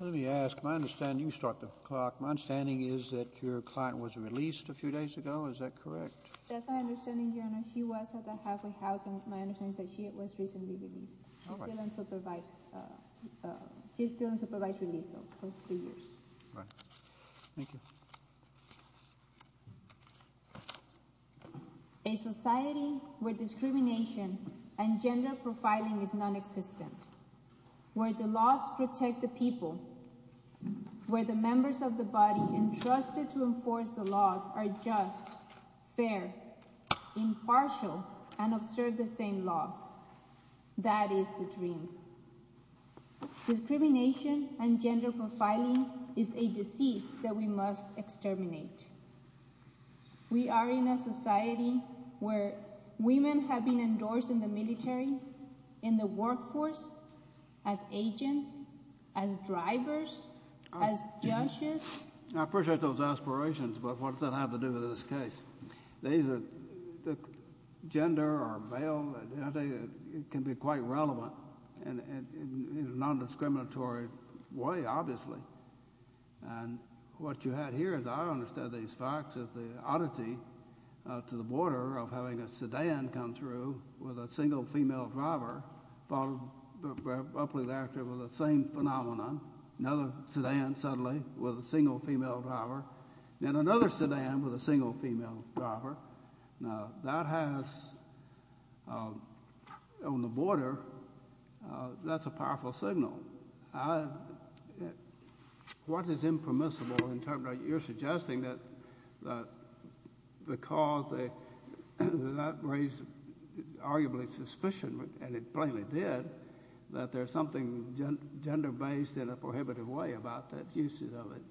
Let me ask, my understanding, you start the clock, my understanding is that your client was released a few days ago, is that correct? That's my understanding, your honor. She was at the halfway house and my understanding is that she was recently released. All right. She's still in supervised release though for three years. Right. Thank you. A society where discrimination and gender profiling is nonexistent, where the laws protect the people, where the members of the body entrusted to enforce the laws are just, fair, impartial, and observe the same laws. That is the dream. Discrimination and gender profiling is a disease that we must exterminate. We are in a society where women have been endorsed in the military, in the workforce, as agents, as drivers, as judges. I appreciate those aspirations, but what does that have to do with this case? Gender or male, it can be quite relevant in a non-discriminatory way, obviously. What you have here, as I understand these facts, is the oddity to the border of having a sedan come through with a single female driver followed abruptly thereafter with the same phenomenon, another sedan suddenly with a single female driver, then another sedan with a single female driver. Now, that has, on the border, that's a powerful signal. What is impermissible in terms of you're suggesting that because that raised arguably suspicion, and it plainly did, that there's something gender-based in a prohibitive way about that use of it?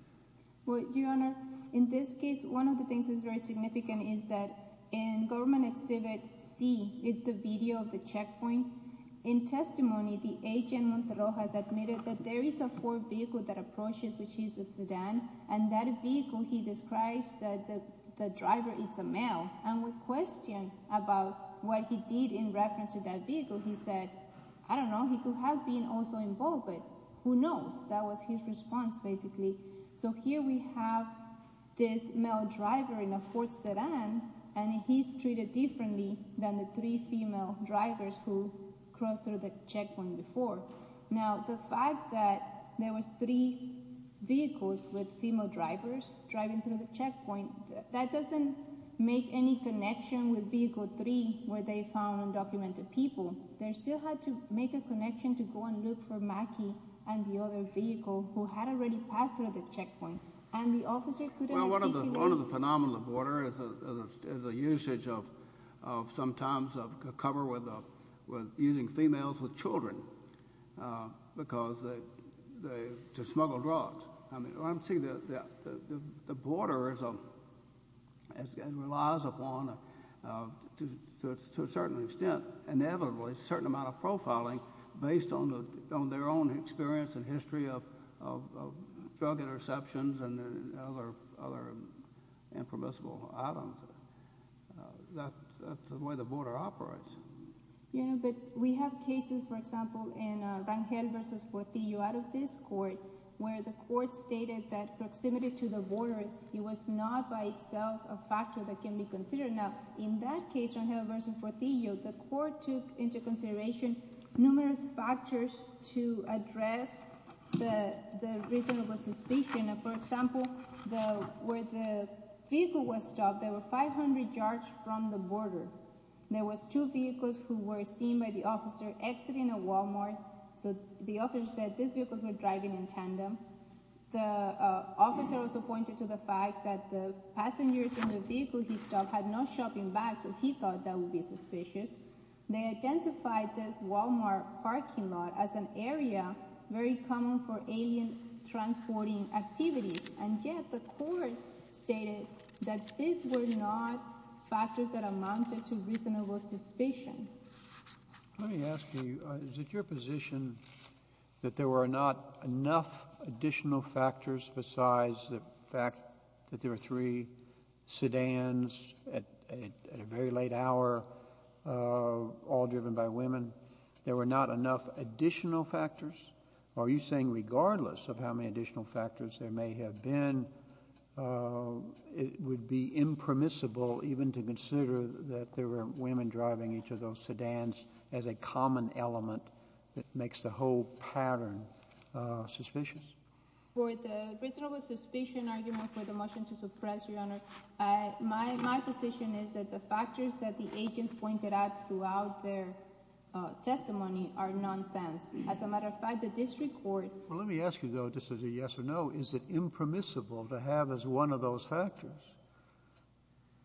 Well, Your Honor, in this case, one of the things that's very significant is that in Government Exhibit C, it's the video of the checkpoint. In testimony, the agent, Montero, has admitted that there is a Ford vehicle that approaches, which is a sedan, and that vehicle, he describes that the driver is a male, and with question about what he did in reference to that vehicle, he said, I don't know, he could have been also involved, but who knows? That was his response, basically. So here we have this male driver in a Ford sedan, and he's treated differently than the three female drivers who crossed through the checkpoint before. Now, the fact that there was three vehicles with female drivers driving through the checkpoint, that doesn't make any connection with Vehicle 3, where they found undocumented people. They still had to make a connection to go and look for Mackie and the other vehicle, who had already passed through the checkpoint, and the officer couldn't articulate. Well, one of the phenomena of border is the usage of sometimes a cover with using females with children to smuggle drugs. I'm saying that the border relies upon, to a certain extent, inevitably, a certain amount of profiling based on their own experience and history of drug interceptions and other impermissible items. That's the way the border operates. Yeah, but we have cases, for example, in Rangel v. Fortillo, out of this court, where the court stated that proximity to the border was not by itself a factor that can be considered. Now, in that case, Rangel v. Fortillo, the court took into consideration numerous factors to address the reasonable suspicion. For example, where the vehicle was stopped, there were 500 yards from the border. There were two vehicles who were seen by the officer exiting a Walmart, so the officer said these vehicles were driving in tandem. The officer also pointed to the fact that the passengers in the vehicle he stopped had no shopping bags, so he thought that would be suspicious. They identified this Walmart parking lot as an area very common for alien transporting activities, and yet the court stated that these were not factors that amounted to reasonable suspicion. Let me ask you, is it your position that there were not enough additional factors besides the fact that there were three sedans at a very late hour, all driven by women? There were not enough additional factors? Are you saying regardless of how many additional factors there may have been, it would be impermissible even to consider that there were women driving each of those sedans as a common element that makes the whole pattern suspicious? For the reasonable suspicion argument for the motion to suppress, Your Honor, my position is that the factors that the agents pointed out throughout their testimony are nonsense. As a matter of fact, the district court— Well, let me ask you, though, just as a yes or no, is it impermissible to have as one of those factors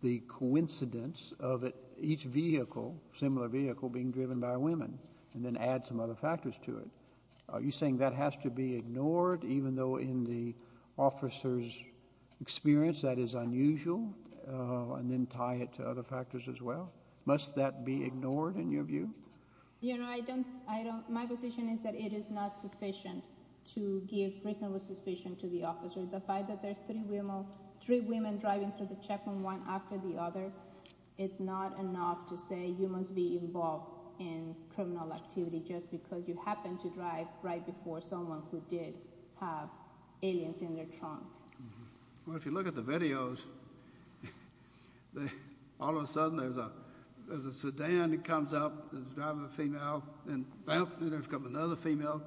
the coincidence of each vehicle, similar vehicle, being driven by women, and then add some other factors to it? Are you saying that has to be ignored, even though in the officer's experience that is unusual, and then tie it to other factors as well? Must that be ignored, in your view? Your Honor, I don't—my position is that it is not sufficient to give reasonable suspicion to the officer. The fact that there's three women driving through the checkpoint one after the other is not enough to say you must be involved in criminal activity just because you happened to drive right before someone who did have aliens in their trunk. Well, if you look at the videos, all of a sudden there's a sedan that comes up that's driving a female, and then there's another female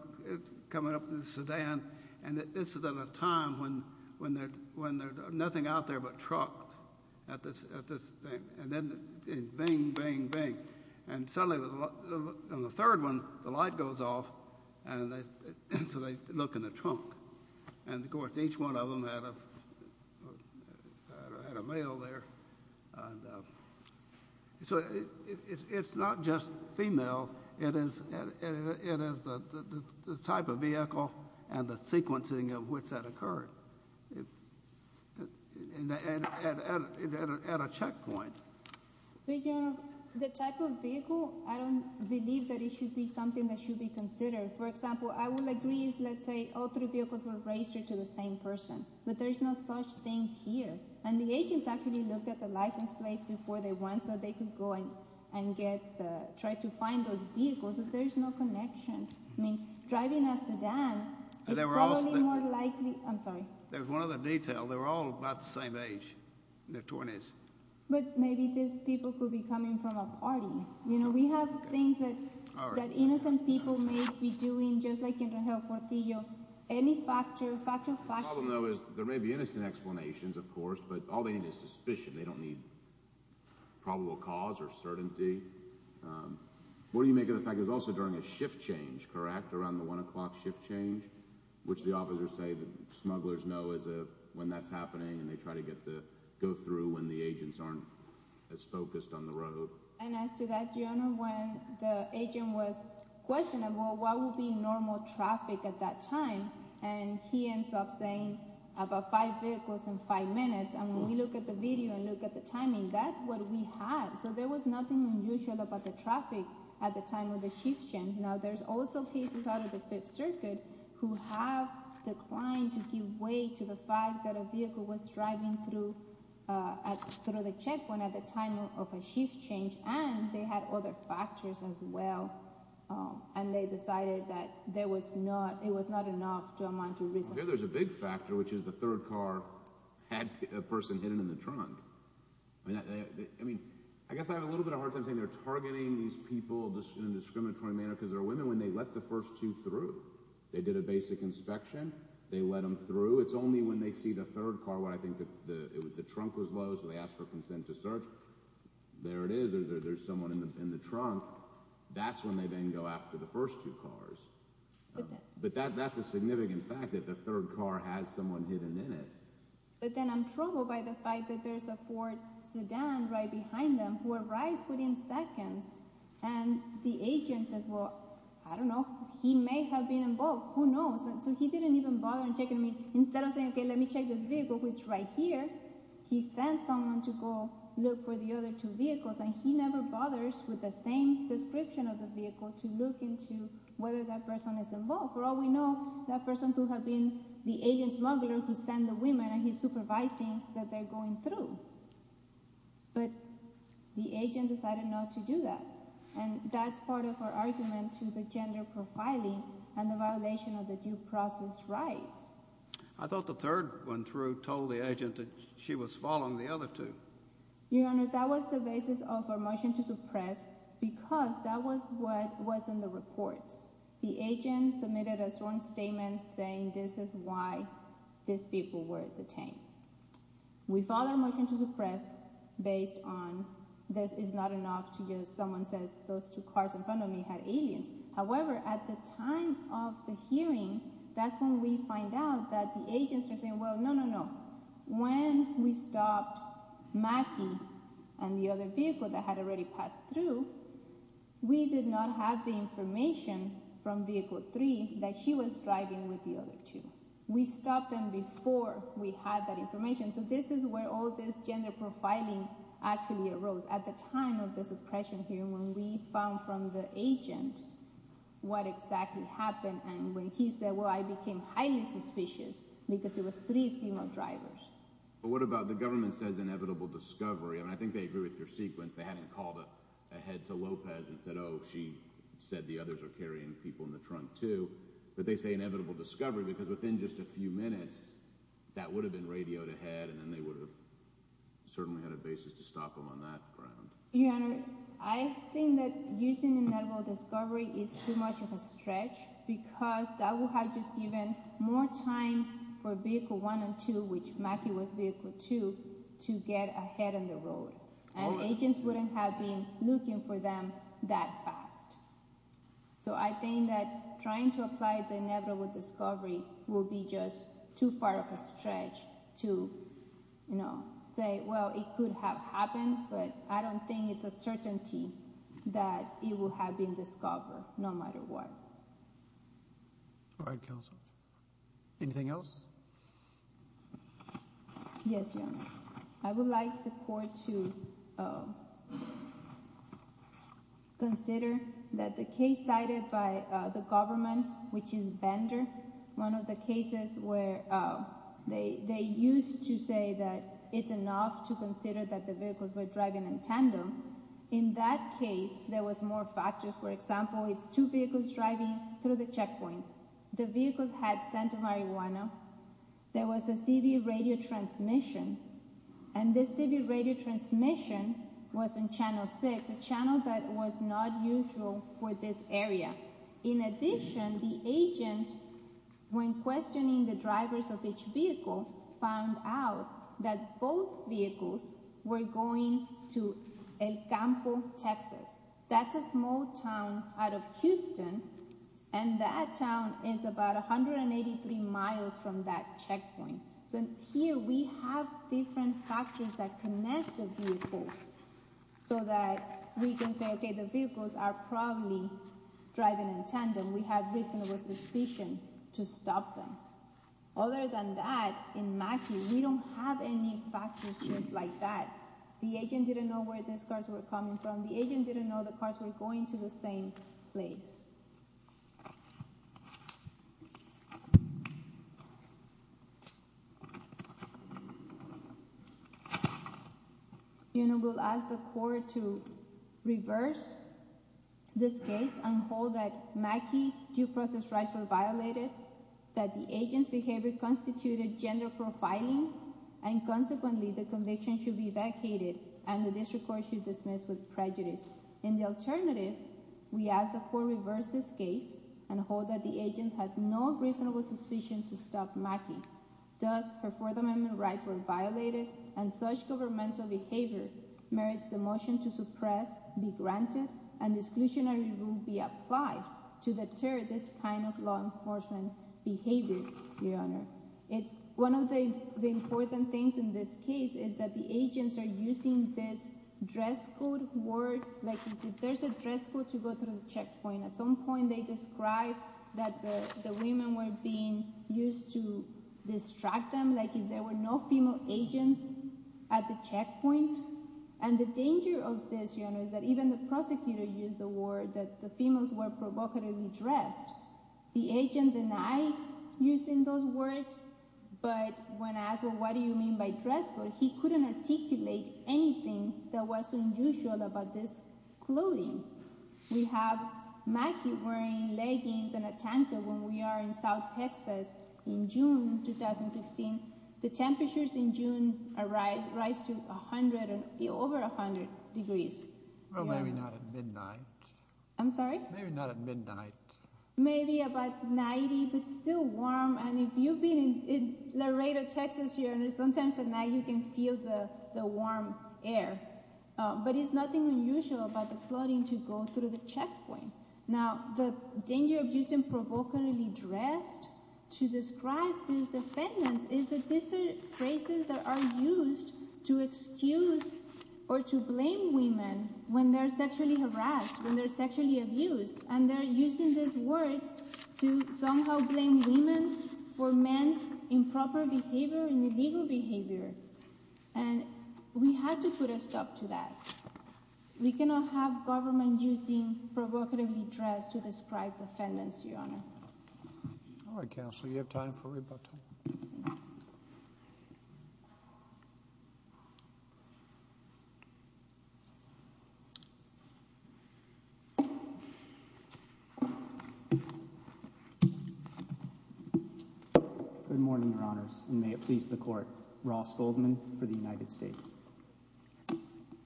coming up in the sedan, and this is at a time when there's nothing out there but trucks at this thing. And then it's bing, bing, bing. And suddenly on the third one, the light goes off, and so they look in the trunk. And, of course, each one of them had a male there. And so it's not just females. It is the type of vehicle and the sequencing of which that occurred at a checkpoint. But, Your Honor, the type of vehicle, I don't believe that it should be something that should be considered. For example, I would agree if, let's say, all three vehicles were raced to the same person, but there's no such thing here. And the agents actually looked at the license plates before they went so they could go and try to find those vehicles, but there's no connection. I mean, driving a sedan is probably more likely. I'm sorry. There's one other detail. They were all about the same age, their 20s. But maybe these people could be coming from a party. You know, we have things that innocent people may be doing, just like in the Hell Portillo. Any factor, factor, factor. The problem, though, is there may be innocent explanations, of course, but all they need is suspicion. They don't need probable cause or certainty. What do you make of the fact that it was also during a shift change, correct, around the 1 o'clock shift change, which the officers say that smugglers know when that's happening, and they try to go through when the agents aren't as focused on the road. And as to that, Your Honor, when the agent was questioning, well, what would be normal traffic at that time, and he ends up saying about five vehicles in five minutes. And when we look at the video and look at the timing, that's what we had. So there was nothing unusual about the traffic at the time of the shift change. Now, there's also cases out of the Fifth Circuit who have declined to give way to the fact that a vehicle was driving through the checkpoint at the time of a shift change, and they had other factors as well, and they decided that it was not enough to amount to reason. Here there's a big factor, which is the third car had a person hidden in the trunk. I mean, I guess I have a little bit of a hard time saying they're targeting these people in a discriminatory manner because they're women when they let the first two through. They did a basic inspection. They let them through. It's only when they see the third car where I think the trunk was low, so they asked for consent to search. There it is. There's someone in the trunk. That's when they then go after the first two cars. But that's a significant fact that the third car has someone hidden in it. But then I'm troubled by the fact that there's a Ford sedan right behind them who arrives within seconds, and the agent says, well, I don't know. He may have been involved. Who knows? So he didn't even bother in checking me. Instead of saying, okay, let me check this vehicle, which is right here, he sent someone to go look for the other two vehicles, and he never bothers with the same description of the vehicle to look into whether that person is involved. For all we know, that person could have been the agent smuggler who sent the women, and he's supervising that they're going through. But the agent decided not to do that, and that's part of our argument to the gender profiling and the violation of the due process rights. I thought the third one told the agent that she was following the other two. Your Honor, that was the basis of our motion to suppress because that was what was in the reports. The agent submitted a strong statement saying this is why these people were detained. We filed our motion to suppress based on this is not enough to just someone says those two cars in front of me had aliens. However, at the time of the hearing, that's when we find out that the agents are saying, well, no, no, no. When we stopped Mackie and the other vehicle that had already passed through, we did not have the information from Vehicle 3 that she was driving with the other two. We stopped them before we had that information. So this is where all this gender profiling actually arose. At the time of the suppression hearing, when we found from the agent what exactly happened and when he said, well, I became highly suspicious because it was three female drivers. But what about the government says inevitable discovery? I mean, I think they agree with your sequence. They hadn't called ahead to Lopez and said, oh, she said the others are carrying people in the trunk, too. But they say inevitable discovery because within just a few minutes that would have been radioed ahead and then they would have certainly had a basis to stop them on that ground. Your Honor, I think that using inevitable discovery is too much of a stretch because that will have just given more time for Vehicle 1 and 2, which Mackie was Vehicle 2, to get ahead on the road. And agents wouldn't have been looking for them that fast. So I think that trying to apply the inevitable discovery will be just too far of a stretch to say, well, it could have happened. But I don't think it's a certainty that it will have been discovered, no matter what. All right, counsel. Yes, Your Honor. I would like the court to consider that the case cited by the government, which is Bender, one of the cases where they used to say that it's enough to consider that the vehicles were driving in tandem. In that case, there was more factor. For example, it's two vehicles driving through the checkpoint. The vehicles had sent marijuana. There was a CB radio transmission, and this CB radio transmission was in Channel 6, a channel that was not usual for this area. In addition, the agent, when questioning the drivers of each vehicle, found out that both vehicles were going to El Campo, Texas. That's a small town out of Houston, and that town is about 183 miles from that checkpoint. So here we have different factors that connect the vehicles so that we can say, okay, the vehicles are probably driving in tandem. We have reasonable suspicion to stop them. Other than that, in Mackey, we don't have any factors just like that. The agent didn't know where these cars were coming from. The agent didn't know the cars were going to the same place. You know, we'll ask the court to reverse this case and hold that Mackey due process rights were violated, that the agent's behavior constituted gender profiling, and consequently the conviction should be vacated and the district court should dismiss with prejudice. In the alternative, we ask the court to reverse this case and hold that the agent had no reasonable suspicion to stop Mackey. Thus, her Fourth Amendment rights were violated, and such governmental behavior merits the motion to suppress, be granted, and exclusionary rule be applied to deter this kind of law enforcement behavior, Your Honor. It's one of the important things in this case is that the agents are using this dress code word. Like, there's a dress code to go through the checkpoint. At some point, they described that the women were being used to distract them, like if there were no female agents at the checkpoint. And the danger of this, Your Honor, is that even the prosecutor used the word that the females were provocatively dressed. The agent denied using those words, but when asked, well, what do you mean by dress code, he couldn't articulate anything that was unusual about this clothing. We have Mackey wearing leggings and a tanta when we are in South Texas in June 2016. The temperatures in June rise to over 100 degrees. Well, maybe not at midnight. I'm sorry? Maybe not at midnight. Maybe about 90, but still warm. And if you've been in Laredo, Texas, Your Honor, sometimes at night you can feel the warm air. But it's nothing unusual about the clothing to go through the checkpoint. Now, the danger of using provocatively dressed to describe these defendants is that these are phrases that are used to excuse or to blame women when they're sexually harassed, when they're sexually abused. And they're using these words to somehow blame women for men's improper behavior and illegal behavior. And we have to put a stop to that. We cannot have government using provocatively dressed to describe defendants, Your Honor. All right, Counselor, you have time for rebuttal. Good morning, Your Honors, and may it please the Court. Ross Goldman for the United States.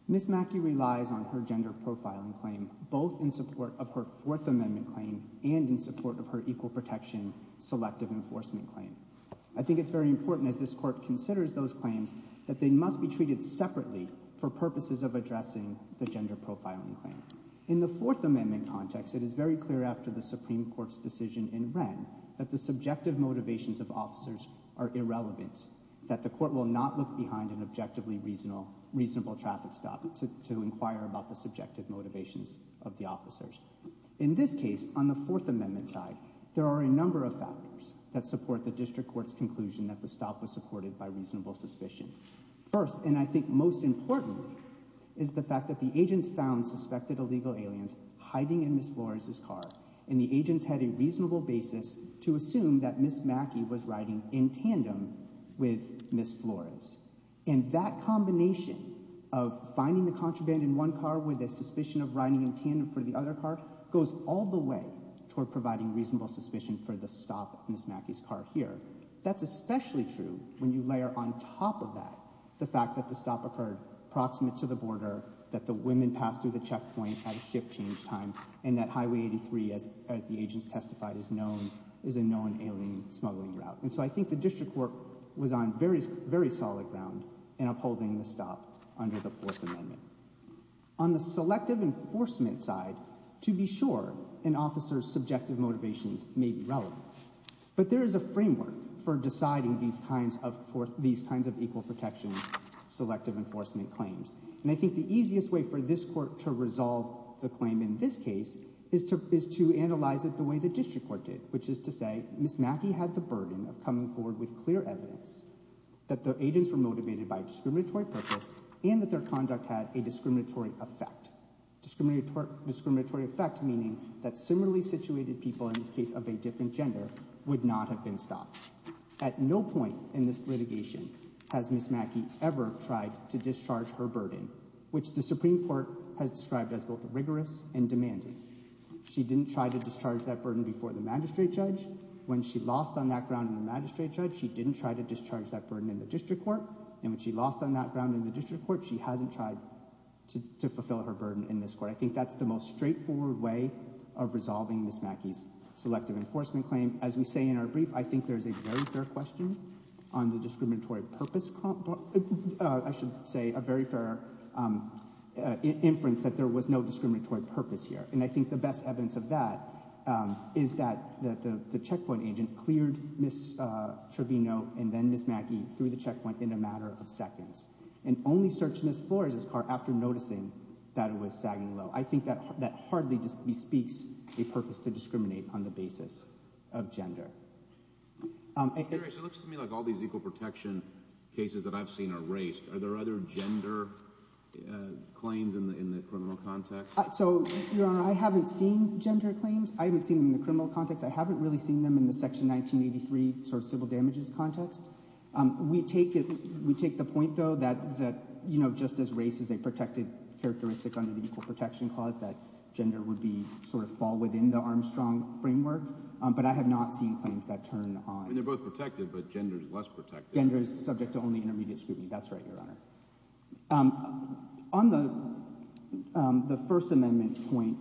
Ms. Mackey relies on her gender profiling claim both in support of her Fourth Amendment claim and in support of her Equal Protection Selective Enforcement claim. I think it's very important, as this Court considers those claims, that they must be treated separately for purposes of addressing the gender profiling claim. In the Fourth Amendment context, it is very clear after the Supreme Court's decision in Wren that the subjective motivations of officers are irrelevant, that the Court will not look behind an objectively reasonable traffic stop to inquire about the subjective motivations of the officers. In this case, on the Fourth Amendment side, there are a number of factors that support the District Court's conclusion that the stop was supported by reasonable suspicion. First, and I think most importantly, is the fact that the agents found suspected illegal aliens hiding in Ms. Flores's car. And the agents had a reasonable basis to assume that Ms. Mackey was riding in tandem with Ms. Flores. And that combination of finding the contraband in one car with a suspicion of riding in tandem for the other car goes all the way toward providing reasonable suspicion for the stop of Ms. Mackey's car here. That's especially true when you layer on top of that the fact that the stop occurred approximate to the border, that the women passed through the checkpoint at a shift change time, and that Highway 83, as the agents testified, is a known alien smuggling route. And so I think the District Court was on very solid ground in upholding the stop under the Fourth Amendment. On the selective enforcement side, to be sure, an officer's subjective motivations may be relevant. But there is a framework for deciding these kinds of equal protection selective enforcement claims. And I think the easiest way for this court to resolve the claim in this case is to analyze it the way the District Court did, which is to say Ms. Mackey had the burden of coming forward with clear evidence that the agents were motivated by a discriminatory purpose and that their conduct had a discriminatory effect. Discriminatory effect meaning that similarly situated people, in this case of a different gender, would not have been stopped. At no point in this litigation has Ms. Mackey ever tried to discharge her burden, which the Supreme Court has described as both rigorous and demanding. She didn't try to discharge that burden before the magistrate judge. When she lost on that ground in the magistrate judge, she didn't try to discharge that burden in the District Court. And when she lost on that ground in the District Court, she hasn't tried to fulfill her burden in this court. I think that's the most straightforward way of resolving Ms. Mackey's selective enforcement claim. As we say in our brief, I think there's a very fair question on the discriminatory purpose. I should say a very fair inference that there was no discriminatory purpose here. And I think the best evidence of that is that the checkpoint agent cleared Ms. Trevino and then Ms. Mackey through the checkpoint in a matter of seconds and only searched Ms. Flores' car after noticing that it was sagging low. I think that hardly bespeaks a purpose to discriminate on the basis of gender. It looks to me like all these equal protection cases that I've seen are raced. Are there other gender claims in the criminal context? So, Your Honor, I haven't seen gender claims. I haven't seen them in the criminal context. I haven't really seen them in the Section 1983 sort of civil damages context. We take the point, though, that, you know, just as race is a protected characteristic under the Equal Protection Clause, that gender would be sort of fall within the Armstrong framework. But I have not seen claims that turn on. I mean, they're both protected, but gender is less protected. Gender is subject to only intermediate scrutiny. That's right, Your Honor. On the First Amendment point,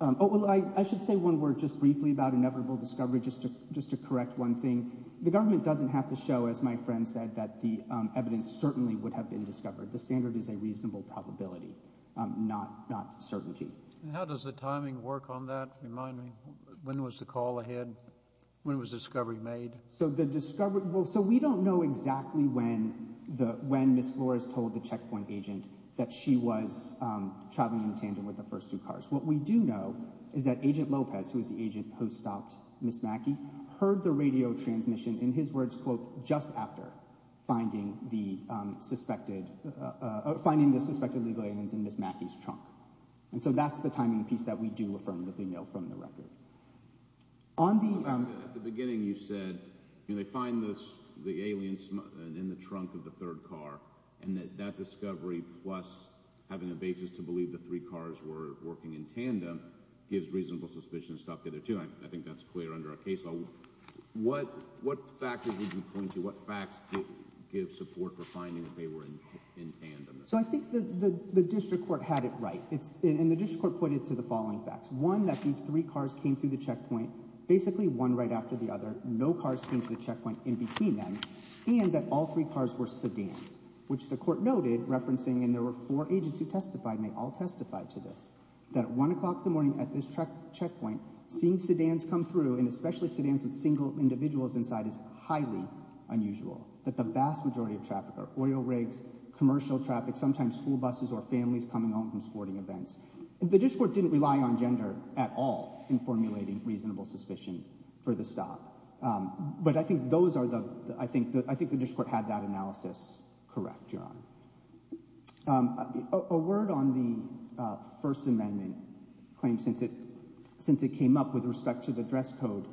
oh, well, I should say one word just briefly about inevitable discovery just to correct one thing. The government doesn't have to show, as my friend said, that the evidence certainly would have been discovered. The standard is a reasonable probability, not certainty. And how does the timing work on that? Remind me, when was the call ahead? When was discovery made? So the discovery—well, so we don't know exactly when Ms. Flores told the checkpoint agent that she was traveling in tandem with the first two cars. What we do know is that Agent Lopez, who is the agent who stopped Ms. Mackey, heard the radio transmission, in his words, quote, just after finding the suspected legal aliens in Ms. Mackey's trunk. And so that's the timing piece that we do affirmatively know from the record. At the beginning, you said, you know, they find the aliens in the trunk of the third car, and that that discovery, plus having a basis to believe the three cars were working in tandem, gives reasonable suspicion to stop the other two. I think that's clear under our case law. What factors would you point to, what facts give support for finding that they were in tandem? So I think the district court had it right, and the district court pointed to the following facts. One, that these three cars came through the checkpoint, basically one right after the other. No cars came to the checkpoint in between them, and that all three cars were sedans, which the court noted, referencing, and there were four agents who testified, and they all testified to this, that at 1 o'clock in the morning at this checkpoint, seeing sedans come through, and especially sedans with single individuals inside, is highly unusual. That the vast majority of traffic are oil rigs, commercial traffic, sometimes school buses or families coming home from sporting events. The district court didn't rely on gender at all in formulating reasonable suspicion for the stop, but I think the district court had that analysis correct, Your Honor. A word on the First Amendment claim, since it came up with respect to the dress code,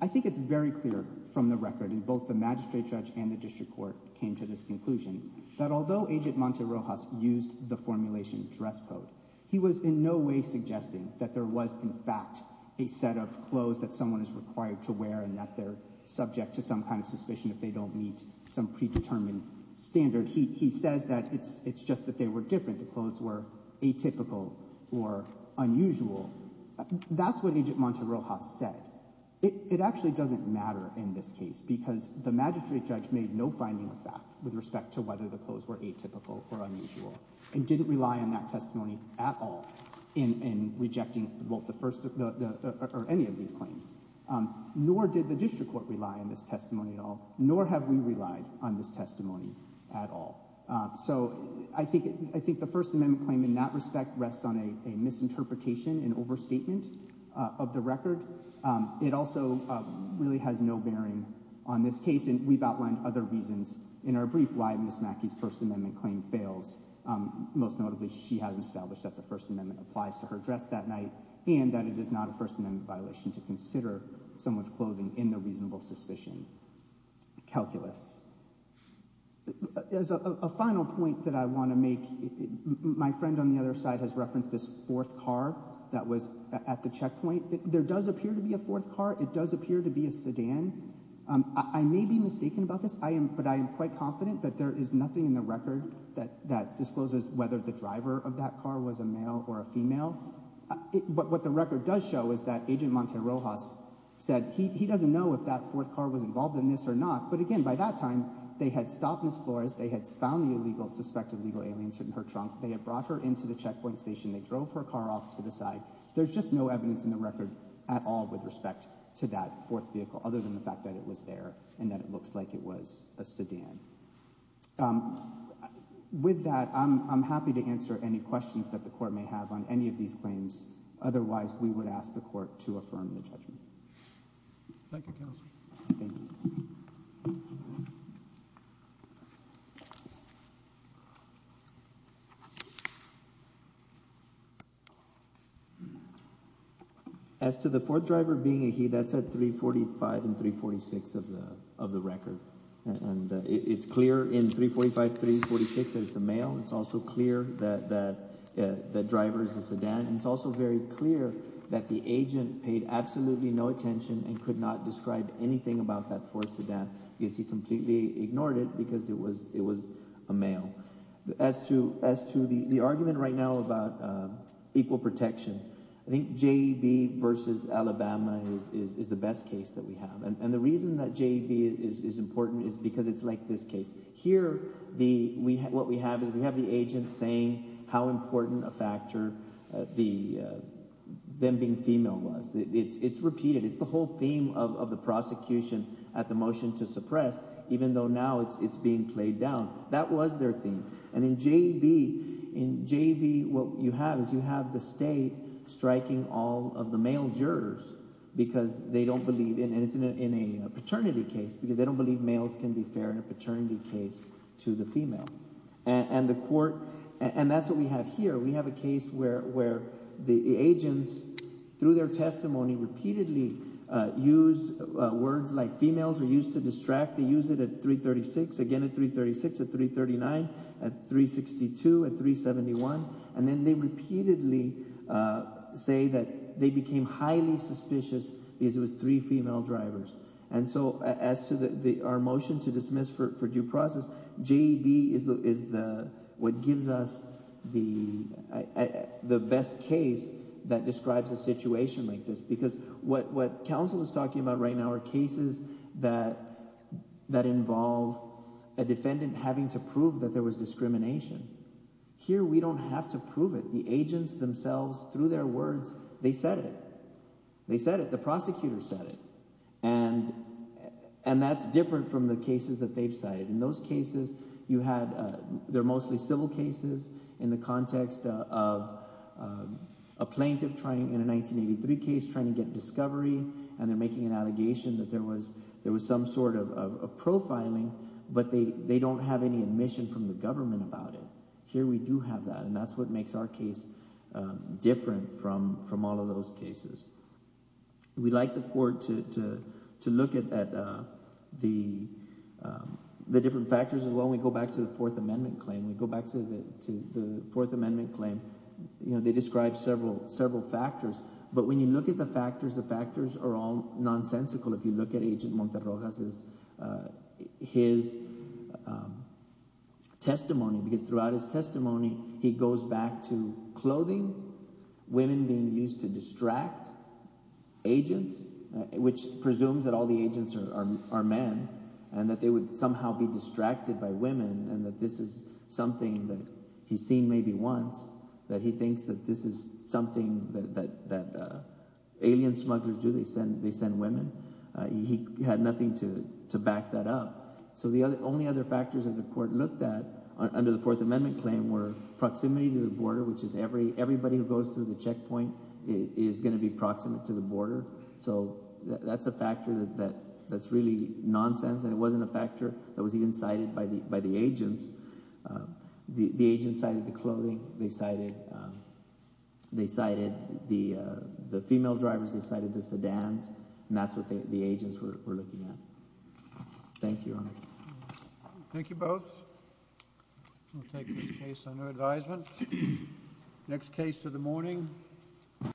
I think it's very clear from the record, and both the magistrate judge and the district court came to this conclusion, that although Agent Monte Rojas used the formulation dress code, he was in no way suggesting that there was, in fact, a set of clothes that someone is required to wear and that they're subject to some kind of suspicion if they don't meet some predetermined standard. He says that it's just that they were different, the clothes were atypical or unusual. That's what Agent Monte Rojas said. It actually doesn't matter in this case, because the magistrate judge made no finding of fact with respect to whether the clothes were atypical or unusual, and didn't rely on that testimony at all in rejecting any of these claims. Nor did the district court rely on this testimony at all, nor have we relied on this testimony at all. So I think the First Amendment claim in that respect rests on a misinterpretation, an overstatement of the record. It also really has no bearing on this case, and we've outlined other reasons in our brief why Ms. Mackey's First Amendment claim fails. Most notably, she has established that the First Amendment applies to her dress that night, and that it is not a First Amendment violation to consider someone's clothing in the reasonable suspicion calculus. As a final point that I want to make, my friend on the other side has referenced this fourth car that was at the checkpoint. There does appear to be a fourth car. It does appear to be a sedan. I may be mistaken about this, but I am quite confident that there is nothing in the record that discloses whether the driver of that car was a male or a female. But what the record does show is that Agent Monte Rojas said he doesn't know if that fourth car was involved in this or not, but again, by that time, they had stopped Ms. Flores, they had found the illegal, suspected illegal alien in her trunk, they had brought her into the checkpoint station, they drove her car off to the side. There's just no evidence in the record at all with respect to that fourth vehicle, other than the fact that it was there and that it looks like it was a sedan. With that, I'm happy to answer any questions that the Court may have on any of these claims. Thank you, Counselor. As to the fourth driver being a he, that's at 345 and 346 of the record. It's clear in 345, 346 that it's a male. It's also clear that the driver is a sedan. It's also very clear that the agent paid absolutely no attention and could not describe anything about that fourth sedan because he completely ignored it because it was a male. As to the argument right now about equal protection, I think J.E.B. v. Alabama is the best case that we have. And the reason that J.E.B. is important is because it's like this case. Here, what we have is we have the agent saying how important a factor them being female was. It's repeated. It's the whole theme of the prosecution at the motion to suppress, even though now it's being played down. That was their theme. And in J.E.B., what you have is you have the State striking all of the male jurors because they don't believe – and it's in a paternity case because they don't believe that males can be fair in a paternity case to the female. And the court – and that's what we have here. We have a case where the agents, through their testimony, repeatedly use words like females are used to distract. They use it at 336, again at 336, at 339, at 362, at 371. And then they repeatedly say that they became highly suspicious because it was three female drivers. And so as to our motion to dismiss for due process, J.E.B. is what gives us the best case that describes a situation like this because what counsel is talking about right now are cases that involve a defendant having to prove that there was discrimination. Here we don't have to prove it. The agents themselves, through their words, they said it. They said it. The prosecutor said it. And that's different from the cases that they've cited. In those cases, you had – they're mostly civil cases in the context of a plaintiff trying – in a 1983 case trying to get discovery and they're making an allegation that there was some sort of profiling, but they don't have any admission from the government about it. Here we do have that, and that's what makes our case different from all of those cases. We like the court to look at the different factors as well. When we go back to the Fourth Amendment claim, we go back to the Fourth Amendment claim. They describe several factors, but when you look at the factors, the factors are all nonsensical. If you look at Agent Monterroja's – his testimony, because throughout his testimony he goes back to clothing, women being used to distract agents, which presumes that all the agents are men and that they would somehow be distracted by women and that this is something that he's seen maybe once, that he thinks that this is something that alien smugglers do. They send women. He had nothing to back that up. So the only other factors that the court looked at under the Fourth Amendment claim were proximity to the border, which is everybody who goes through the checkpoint is going to be proximate to the border. So that's a factor that's really nonsense, and it wasn't a factor that was even cited by the agents. The agents cited the clothing. They cited – they cited the female drivers. They cited the sedans, and that's what the agents were looking at. Thank you, Your Honor. Thank you both. We'll take this case under advisement. Next case of the morning.